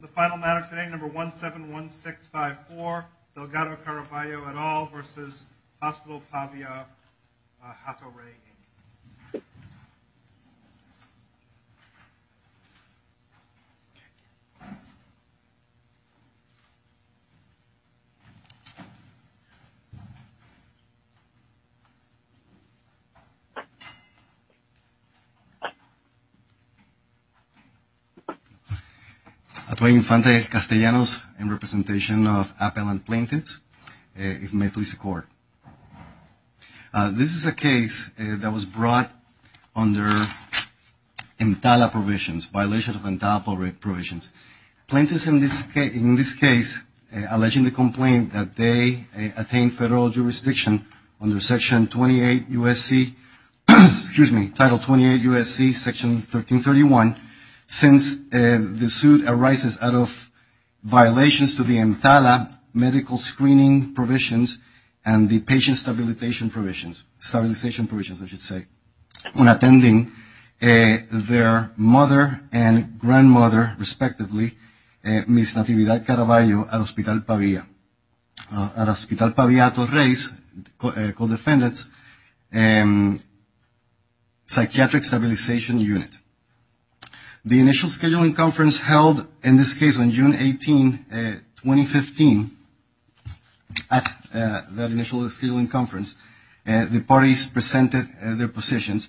The final matter today, number 171654, Delgado-Caraballo et al. v. Hospital Pavia Hato Rey, Inc. Tuey Infante Castellanos in representation of appellant plaintiffs, if you may please accord. This is a case that was brought under EMTALA provisions, violation of EMTALA provisions. Plaintiffs in this case, alleging the complaint that they attained federal jurisdiction under Section 28 U.S.C., excuse me, Title 28 U.S.C. Section 1331, since the suit arises out of violations to the EMTALA medical screening provisions and the patient stabilization provisions, stabilization provisions I should say, when attending their mother and grandmother, respectively, Miss Natividad Caraballo at Hospital Pavia, at Hospital Pavia Hato Rey's co-defendants psychiatric stabilization unit. The initial scheduling conference held in this case on June 18, 2015, at that initial scheduling conference, the parties presented their positions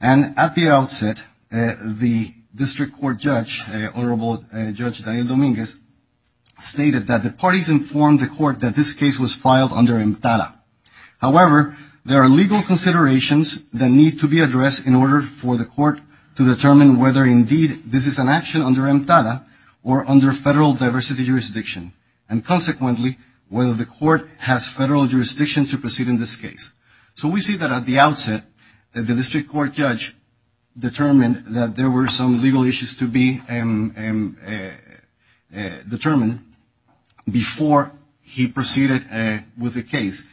and at the outset, the district court judge, Honorable Judge Daniel Dominguez, stated that the parties informed the court that this case was filed under EMTALA. However, there are legal considerations that need to be addressed in order for the court to determine whether indeed this is an action under EMTALA or under federal diversity jurisdiction and consequently, whether the court has federal jurisdiction to proceed in this case. So we see that at the outset, the district court judge determined that there were some legal issues to be determined before he proceeded with the case.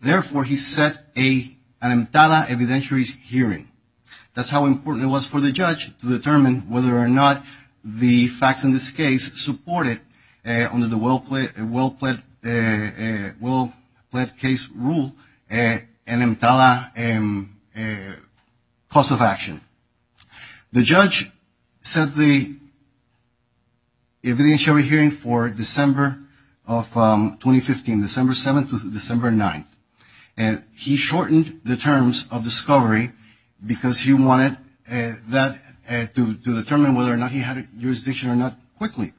Therefore, he set an EMTALA evidentiary hearing. That's how important it was for the judge to determine whether or not the facts in this case supported under the well-pledged case rule, an EMTALA cause of action. The judge set the evidentiary hearing for December of 2015, December 7th to December 9th. And he shortened the terms of discovery because he wanted that to determine whether or not he had jurisdiction or not quickly.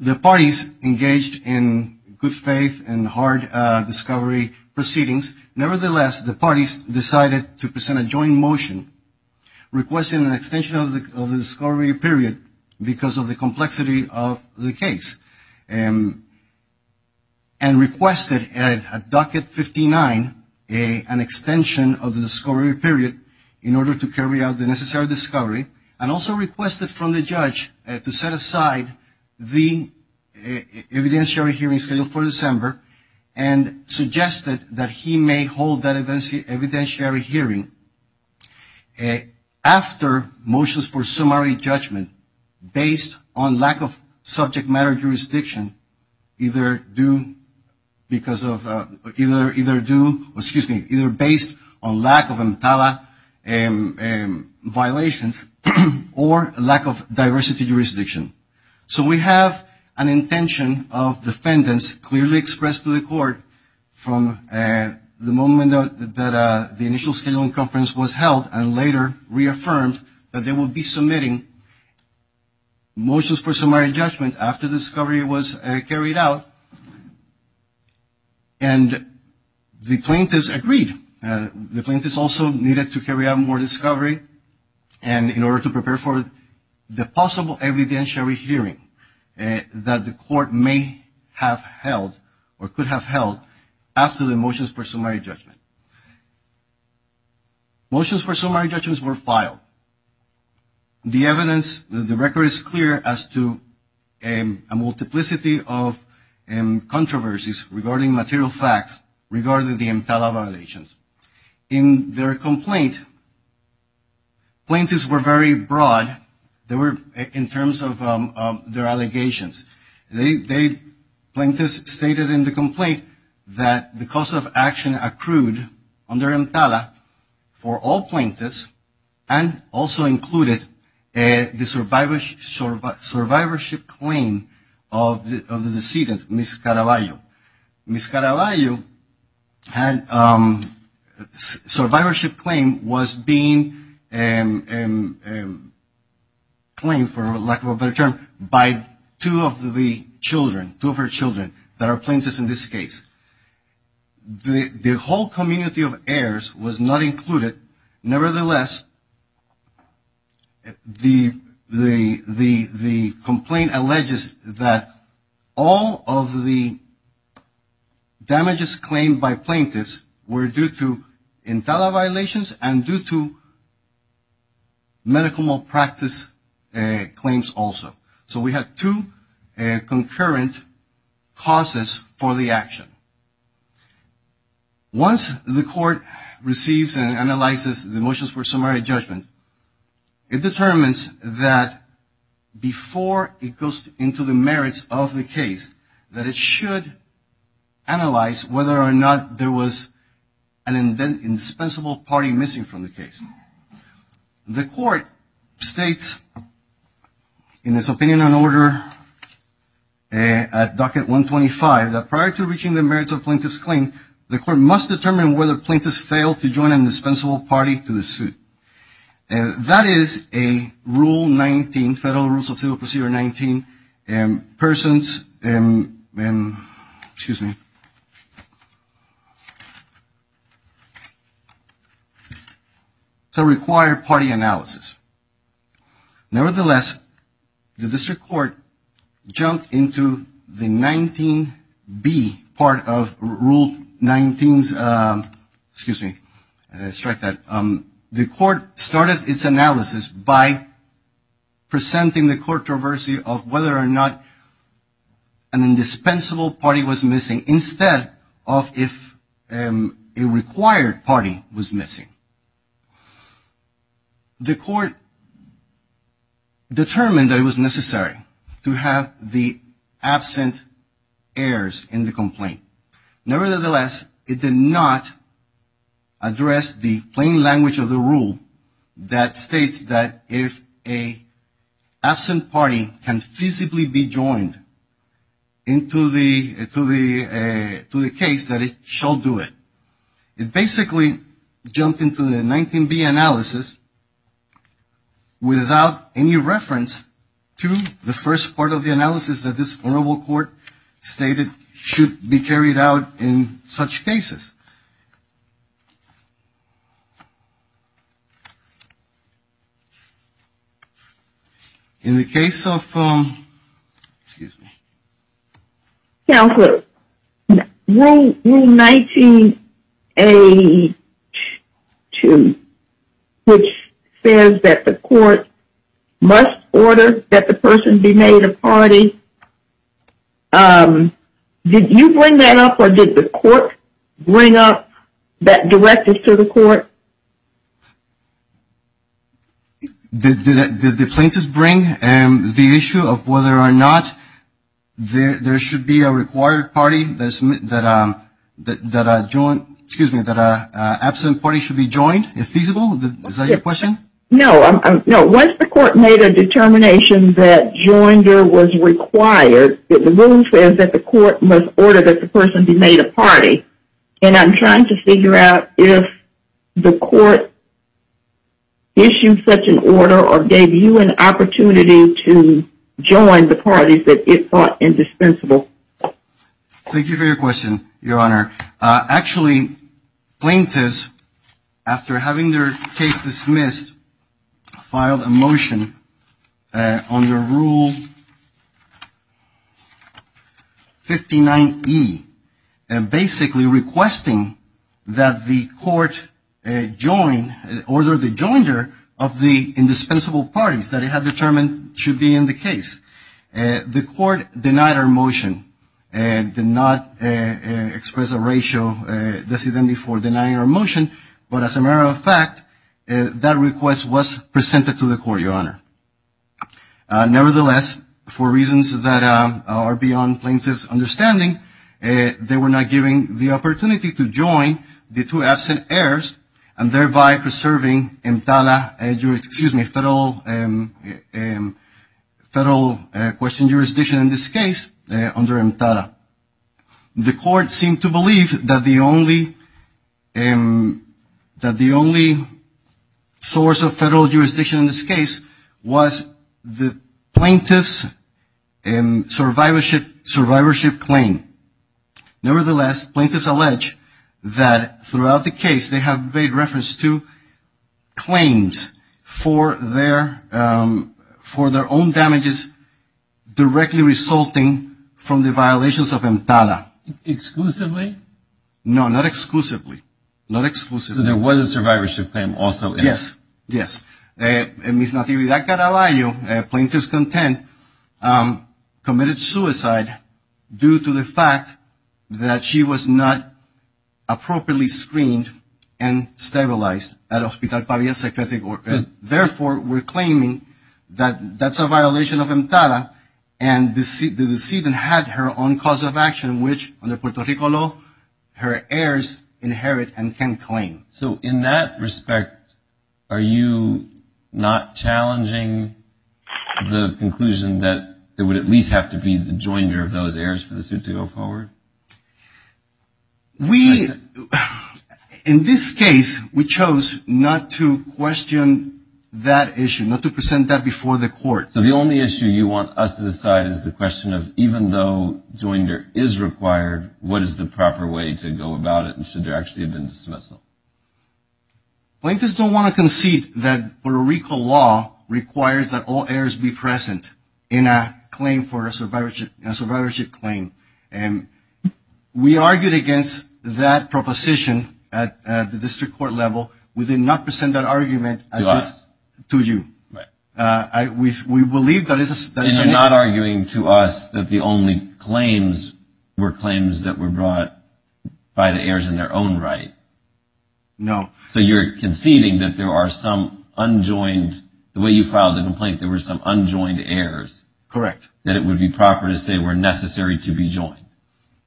The parties engaged in good faith and hard discovery proceedings. Nevertheless, the parties decided to present a joint motion requesting an extension of the discovery period because of the complexity of the case. And requested at docket 59 an extension of the discovery period in order to carry out the necessary discovery and also requested from the judge to set aside the evidentiary hearing scheduled for December and suggested that he may hold that evidentiary hearing after motions for summary judgment based on lack of subject matter jurisdiction either due, excuse me, either based on lack of EMTALA violations or lack of diversity jurisdiction. So we have an intention of defendants clearly expressed to the court from the moment that the initial scheduling conference was held and later reaffirmed that they will be submitting motions for summary judgment after discovery was carried out. And the plaintiffs agreed. The plaintiffs also needed to carry out more discovery and in order to prepare for the evidentiary hearing that the court may have held or could have held after the motions for summary judgment. Motions for summary judgments were filed. The evidence, the record is clear as to a multiplicity of controversies regarding material facts regarding the EMTALA violations. In their complaint, plaintiffs were very broad in terms of their allegations. Plaintiffs stated in the complaint that the cause of action accrued under EMTALA for all plaintiffs and also included the survivorship claim of the decedent, Ms. Caraballo. Ms. Caraballo's survivorship claim was being claimed for lack of a better term by two of the children, two of her children that are plaintiffs in this case. The whole community of heirs was not included. Nevertheless, the complaint alleges that all of the damages claimed by plaintiffs were due to EMTALA violations and due to medical malpractice claims also. So we have two concurrent causes for the action. Once the court receives and analyzes the motions for summary judgment, it determines that before it goes into the merits of the case, that it should analyze whether or not there was an indispensable party missing from the case. The court states in its opinion and order at Docket 125 that prior to reaching the merits of plaintiff's claim, the court must determine whether plaintiffs failed to join an indispensable party to the suit. That is a Rule 19, Federal Rules of Civil Procedure 19 persons, excuse me, to require party analysis. Nevertheless, the district court jumped into the 19B part of Rule 19, excuse me, strike that. The court started its analysis by presenting the court traversy of whether or not an indispensable party was missing from the case. The court determined that it was necessary to have the absent heirs in the complaint. Nevertheless, it did not address the plain language of the rule that states that if a absent party can feasibly be joined into the case, that it shall do it. It basically jumped into the 19B analysis without any reference to the first part of the analysis that this honorable court stated should be carried out in such cases. In the case of, excuse me. Counselor, Rule 19A2, which says that the court must order that the person be made a party. Did you bring that up or did the court bring up that directive to the court? Did the plaintiffs bring the issue of whether or not there should be a required party that a joint, excuse me, that an absent party should be joined if feasible? Is that your question? No. Once the court made a determination that joinder was required, the rule says that the court must order that the person be made a party. And I'm trying to figure out if the court issued such an order or gave you an opportunity to join the parties that it thought indispensable. Thank you for your question, Your Honor. Actually, plaintiffs, after having their case dismissed, filed a motion under Rule 59E, basically requesting that the court join, order the joinder of the indispensable parties that it had determined should be in the case. The court denied our motion and did not express a racial dissidentity for denying our motion. But as a matter of fact, that request was presented to the court, Your Honor. Nevertheless, for reasons that are beyond plaintiffs' understanding, they were not given the opportunity to join the two absent heirs and thereby preserving EMTALA, excuse me, federal question jurisdiction in this case under EMTALA. The court seemed to believe that the only source of federal jurisdiction in this case was the plaintiff's survivorship claim. Nevertheless, plaintiffs allege that throughout the case they have made reference to claims for their own damages directly resulting from the violations of EMTALA. Exclusively? No, not exclusively. There was a survivorship claim also. Yes. Miss Natividad Caraballo, plaintiff's content, committed suicide due to the fact that she was not appropriately screened and stabilized at Hospital Pavia Psychiatric Org. Therefore, we're claiming that that's a violation of EMTALA and the decedent had her own cause of action, which under Puerto Rico law, her heirs inherit and can claim. So in that respect, are you not challenging the conclusion that it would at least have to be the joinder of those heirs for the suit to go forward? We, in this case, we chose not to question that issue, not to present that before the court. So the only issue you want us to decide is the question of even though joinder is required, what is the proper way to go about it and should we actually have been dismissal? Plaintiffs don't want to concede that Puerto Rico law requires that all heirs be present in a claim for a survivorship claim. And we argued against that proposition at the district court level. We did not present that argument to you. We believe that is a... And you're not arguing to us that the only claims were claims that were brought by the heirs in their own right? No. So you're conceding that there are some unjoined, the way you filed the complaint, there were some unjoined heirs. Correct. That it would be proper to say were necessary to be joined.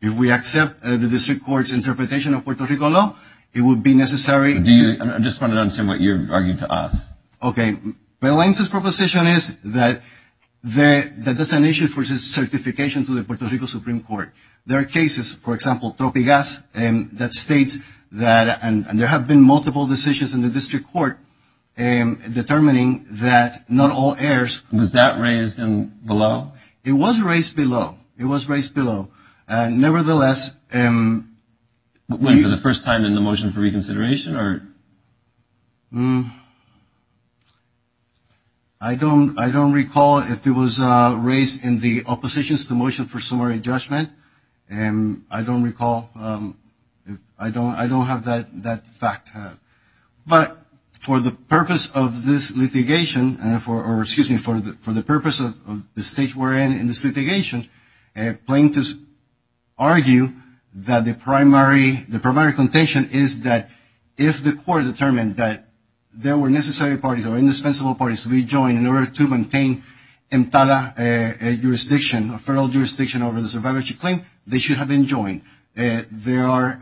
If we accept the district court's interpretation of Puerto Rico law, it would be necessary... I'm just trying to understand what you're arguing to us. Okay. Belen's proposition is that there's an issue for certification to the Puerto Rico Supreme Court. There are cases, for example, Topigas, that states that... And there have been multiple decisions in the district court determining that not all heirs... Was that raised below? It was raised below. It was raised below. Nevertheless... When? For the first time in the motion for reconsideration? I don't recall if it was raised in the opposition's motion for summary judgment. I don't recall... I don't have that fact. But for the purpose of this litigation... Or excuse me, for the purpose of the stage we're in in this litigation, plaintiffs argue that the primary contention is that if the court determined that there were necessary parties or indispensable parties to be the survivorship claim, they should have been joined. They are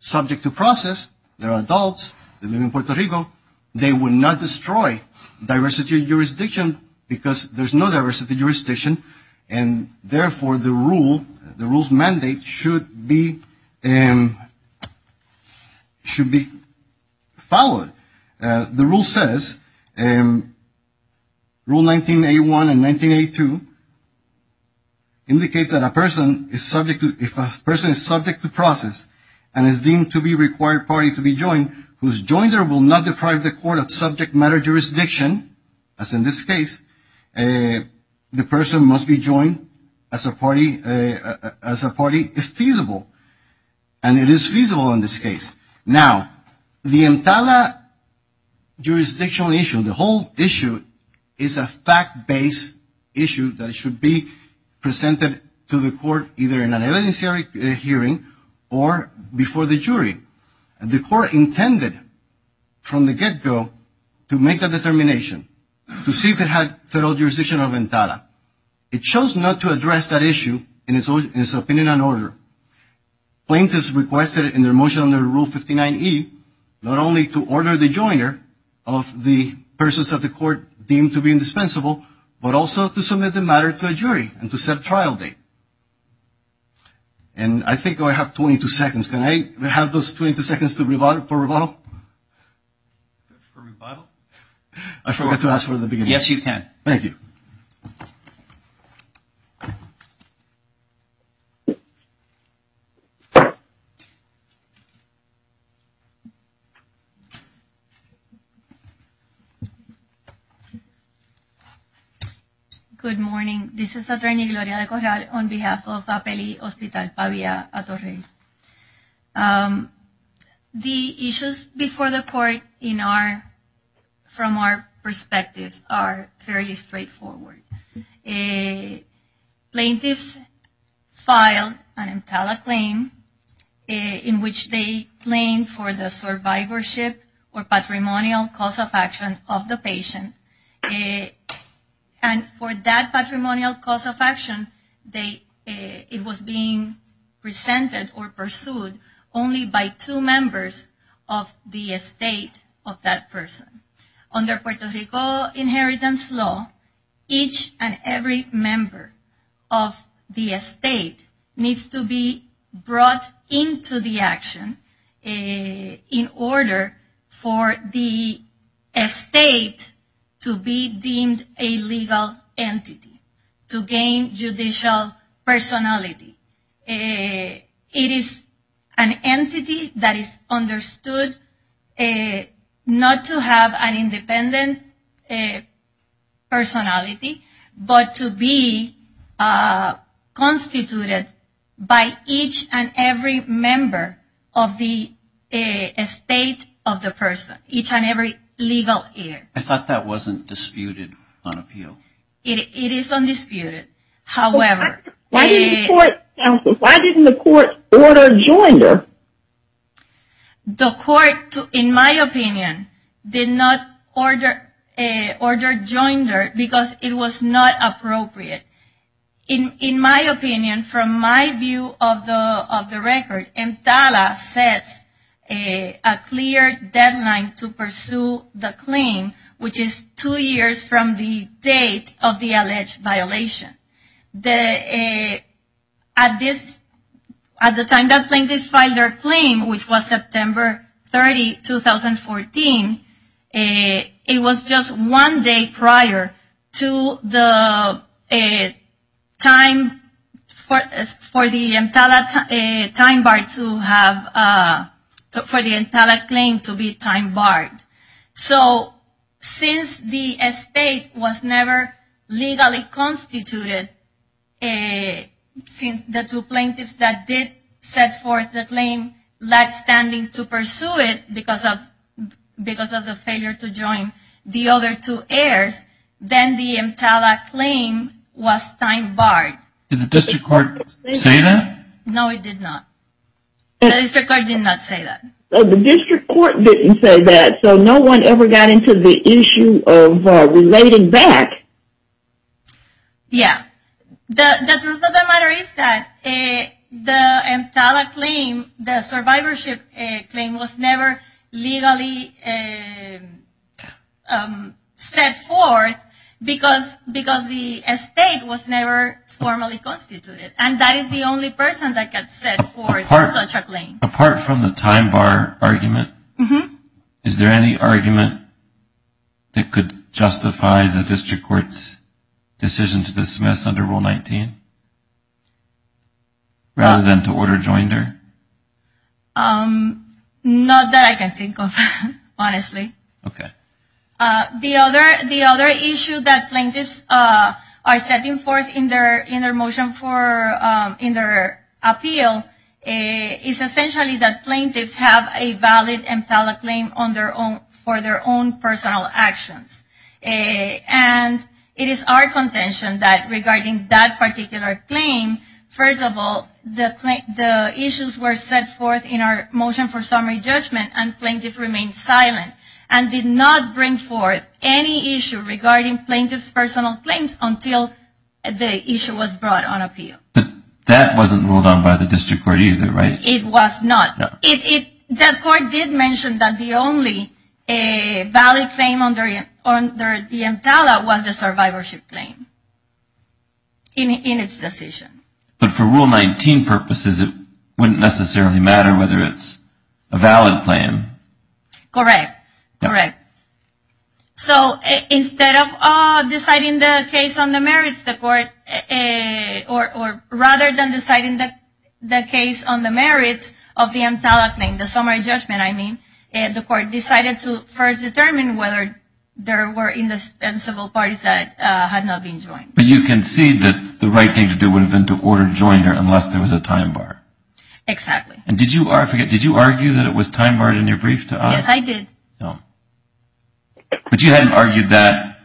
subject to process. They're adults. They live in Puerto Rico. They would not destroy diversity of jurisdiction because there's no diversity of jurisdiction. And therefore, the rule... The rule's mandate should be... Should be followed. The rule says... Rule 19A1 and 19A2... Indicates that a person is subject to... If a person is subject to process and is deemed to be required party to be joined, whose joinder will not deprive the court of subject matter jurisdiction, as in this case, the person must be joined as a party if feasible. And it is feasible in this case. Now, the Entala jurisdictional issue, the whole issue is a fact-based issue that should be presented to the court either in an evidentiary hearing or before the jury. The court intended from the get-go to make a determination to see if it had federal jurisdiction of Entala. It chose not to address that issue in its opinion and order. Plaintiffs requested in their motion under Rule 59E, not only to order the joiner of the persons of the court deemed to be indispensable, but also to submit the matter to a jury and to set a trial date. And I think I have 22 seconds. Can I have those 22 seconds for rebuttal? I forgot to ask for the beginning. Yes, you can. Thank you. Good morning. This is attorney Gloria de Corral on behalf of Apeli Hospital, Pavia Atorrey. The issues before the court from our perspective are fairly straightforward. Plaintiffs filed an Entala claim in which they claimed for the survivorship or patrimonial cause of action of the patient. And for that patrimonial cause of action, it was being presented or pursued only by two members of the estate of that person. Under Puerto Rico Inheritance Law, each and every member of the estate needs to be brought into the action in order for the estate to be deemed a legal entity, to gain judicial personality. It is an entity that is understood not to have a legal entity, but to have an independent personality, but to be constituted by each and every member of the estate of the person. Each and every legal heir. I thought that wasn't disputed on appeal. It is undisputed. Why didn't the court order joinder? The court, in my opinion, did not order joinder because it was not appropriate. In my opinion, from my view of the record, Entala set a clear deadline to pursue the claim, which is two years from the date of the alleged violation. At the time that plaintiff filed their claim, which was September 30, 2014, it was just one day prior to the time for the Entala claim to be time barred. So, since the estate was never legally constituted, since the two plaintiffs that did set forth the claim lacked standing to pursue it because of the failure to join the other two heirs, then the Entala claim was time barred. Did the district court say that? No, it did not. The district court did not say that. The district court didn't say that, so no one ever got into the issue of relating back. Yeah. The truth of the matter is that the Entala claim, the survivorship claim, was never legally set forth because the estate was never formally constituted, and that is the only person that got set forth such a claim. Apart from the time bar argument, is there any argument that could justify the district court's decision to dismiss under Rule 19, rather than to order joinder? Not that I can think of, honestly. Okay. The other issue that plaintiffs are setting forth in their motion for, in their appeal, is essentially that plaintiffs have a valid Entala claim for their own personal actions. And it is our contention that regarding that particular claim, first of all, the issues were set forth in our motion for summary judgment and plaintiffs remained silent and did not bring forth any issue regarding plaintiffs' personal claims until the issue was brought on appeal. But that wasn't ruled on by the district court either, right? It was not. The court did mention that the only valid claim under the Entala was the survivorship claim in its decision. But for Rule 19 purposes, it wouldn't necessarily matter whether it's a valid claim. Correct. So instead of deciding the case on the merits of the court, or rather than deciding the case on the merits of the Entala claim, the summary judgment, I mean, the court decided to first determine whether there were indispensable parties that had not been joined. But you concede that the right thing to do would have been to order joinder unless there was a time bar. Exactly. And did you argue that it was time barred in your brief to us? Yes, I did. But you hadn't argued that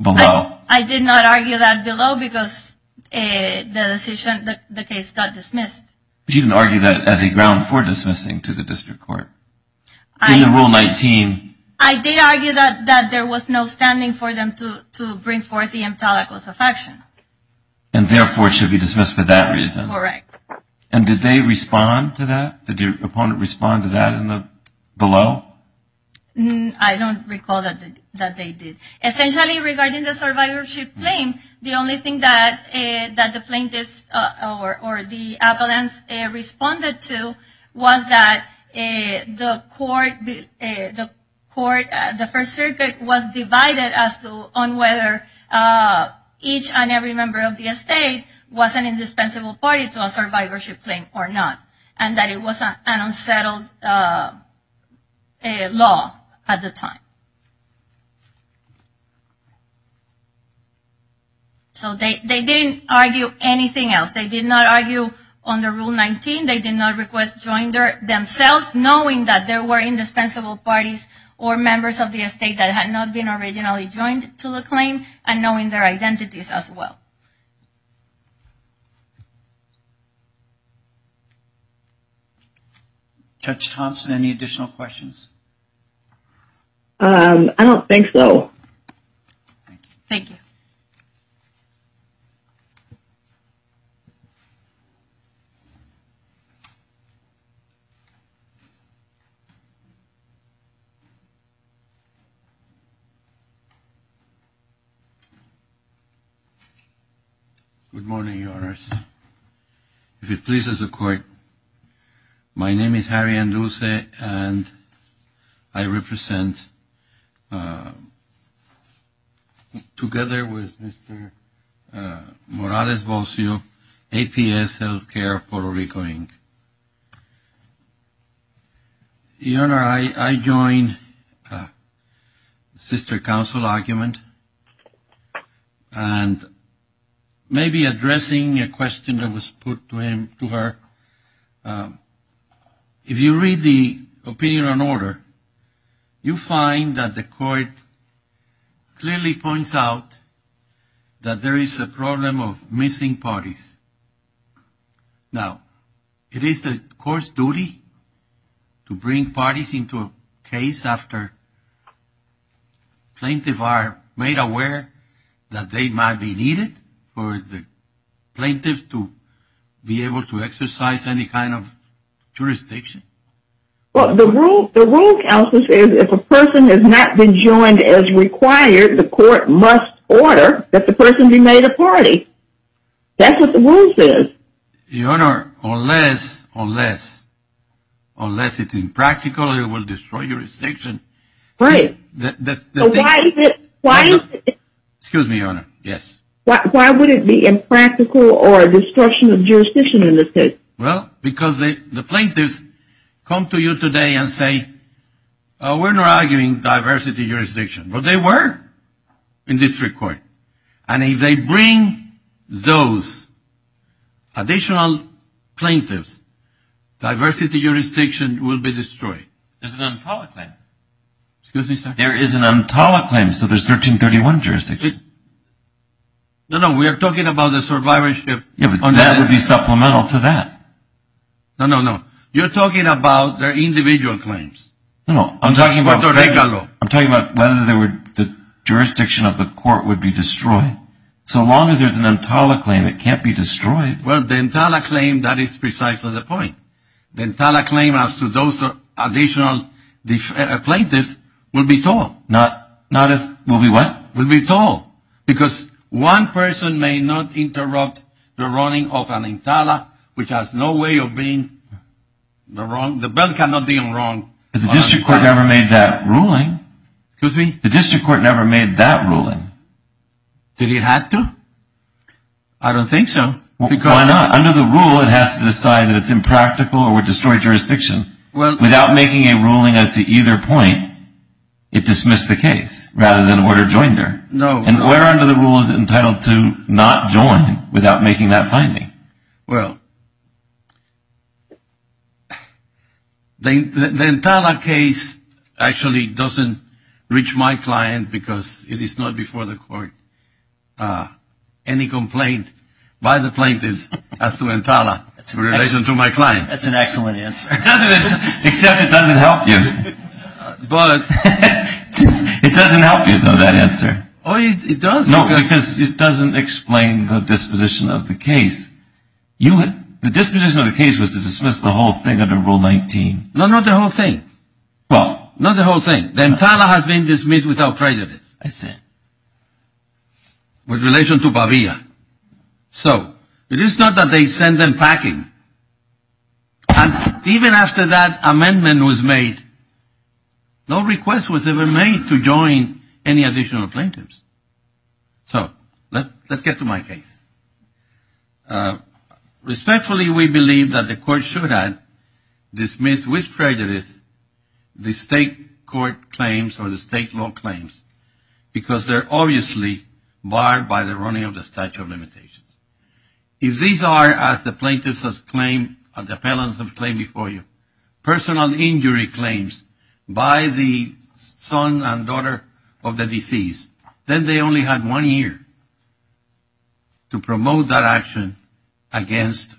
below. I did not argue that below because the decision, the case got dismissed. But you didn't argue that as a ground for dismissing to the district court. I did argue that there was no standing for them to bring forth the Entala cause of action. And therefore, it should be dismissed for that reason. Correct. And did they respond to that? Did your opponent respond to that below? I don't recall that they did. Essentially, regarding the survivorship claim, the only thing that the plaintiffs or the appellants responded to was that the court, the First Circuit was divided as to on whether each and every plaintiff and every member of the estate was an indispensable party to a survivorship claim or not. And that it was an unsettled law at the time. So they didn't argue anything else. They did not argue under Rule 19. They did not request joinder themselves knowing that there were indispensable parties or members of the estate that had not been originally joined to the claim and knowing their identities as well. Judge Thompson, any additional questions? I don't think so. Thank you. Good morning, Your Honors. If it pleases the court, my name is Harry Endulce and I represent Mr. Morales Bolsio, APS Healthcare, Puerto Rico, Inc. Your Honor, I joined the sister counsel argument and maybe addressing a question that was put to her. If you read the opinion on order, you find that the court clearly points out that there is a problem of missing parties. Now, it is the court's duty to bring parties into a case after plaintiff are made aware that they might be needed for the plaintiff to be able to exercise any kind of jurisdiction? Well, the rule counsel says if a person has not been joined as required, the court must order that the person be made a party. That's what the rule says. Your Honor, unless it's impractical, it will destroy jurisdiction. Right. Excuse me, Your Honor, yes. Why would it be impractical or destruction of jurisdiction in this case? Well, because the plaintiffs come to you today and say, we're not giving diversity jurisdiction. But they were in district court. And if they bring those additional plaintiffs, diversity jurisdiction will be destroyed. There's an Untala claim. Excuse me, sir. There is an Untala claim, so there's 1331 jurisdiction. No, no, we are talking about the survivorship. Yeah, but that would be supplemental to that. No, no, no. You're talking about their individual claims. I'm talking about whether the jurisdiction of the court would be destroyed. So long as there's an Untala claim, it can't be destroyed. Well, the Untala claim, that is precisely the point. The Untala claim as to those additional plaintiffs will be tall. Will be what? There's no way of being wrong. The bill cannot be wrong. But the district court never made that ruling. Excuse me? The district court never made that ruling. Did it have to? I don't think so. Why not? Under the rule, it has to decide that it's impractical or would The Untala case actually doesn't reach my client because it is not before the court. Any complaint by the plaintiffs as to Untala in relation to my client. That's an excellent answer. Except it doesn't help you. It doesn't help you, though, that answer. Oh, it does. No, because it doesn't explain the disposition of the case. The disposition of the case was to dismiss the whole thing under Rule 19. No, not the whole thing. Well, not the whole thing. The Untala has been dismissed without prejudice. I see. With relation to Bavia. So, it is not that they send them packing. And even after that amendment was made, no request was ever made to respectfully, we believe that the court should have dismissed with prejudice the state court claims or the state law claims because they're obviously barred by the running of the statute of limitations. If these are, as the plaintiffs have claimed and the appellants have claimed before you, personal injury claims by the son and daughter of the deceased, then they only had one year to promote that action against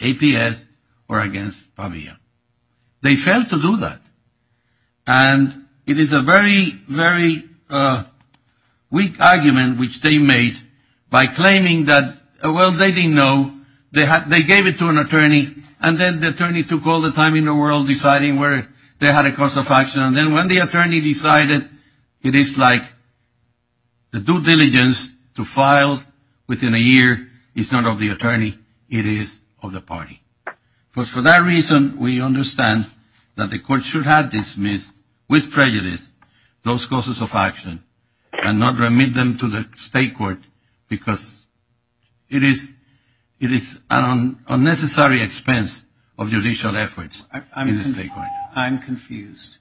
APS or against Bavia. They failed to do that. And it is a very, very weak argument which they made by claiming that, well, they didn't know they gave it to an attorney and then the attorney took all the time in the world deciding where they had a course of action and then when the attorney decided it is like the due diligence to file within a year is not of the attorney, it is of the party. But for that reason, we understand that the court should have dismissed with prejudice those courses of action and not remit them to the state court because it is an unnecessary expense of judicial efforts in the state court. I'm confused.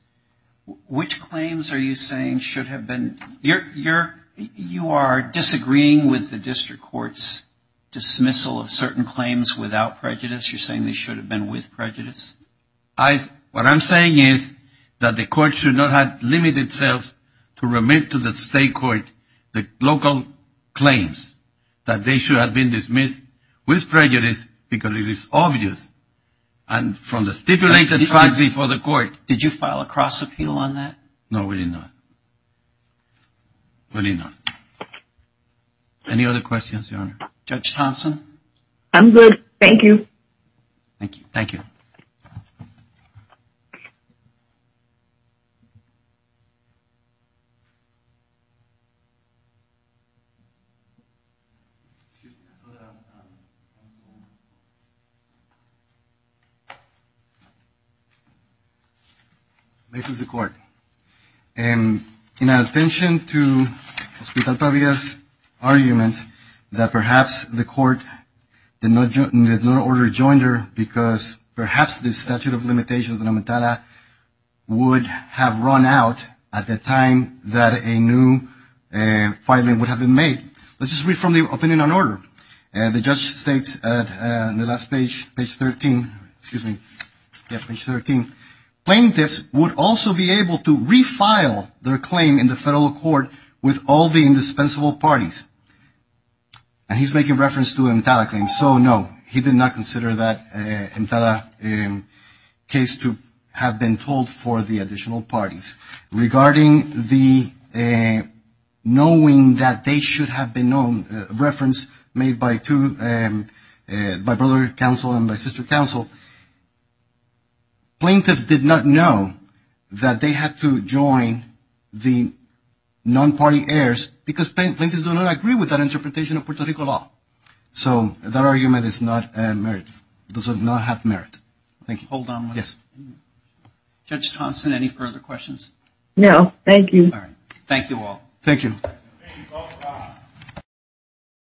Which claims are you saying should have been you are disagreeing with the district court's dismissal of certain claims without prejudice? You're saying they should have been with prejudice? What I'm saying is that the court should not limit itself to remit to the state court the local claims. That they should have been dismissed with prejudice because it is obvious from the stipulated facts before the court. Did you file a cross appeal on that? No, we did not. Any other questions? I'm good, thank you. Thank you. Thank you, Mr. Court. In attention to Hospital Pavia's argument that perhaps the court did not order to join her because perhaps the statute of limitations would have run out at the time that a new filing would have been made. Let's just read from the opinion on order. The judge states on page 13 plaintiffs would also be able to refile their claim in the federal court with all the indispensable parties. He's making reference to Emtala claims, so no. He did not consider that Emtala case to have been told for the additional parties. Regarding the knowing that they should have been known reference made by brother counsel and by sister counsel. Plaintiffs did not know that they had to join the non-party heirs because plaintiffs do not agree with that interpretation of Puerto Rico law. So that argument does not have merit. Hold on. Judge Thompson, any further questions? No, thank you.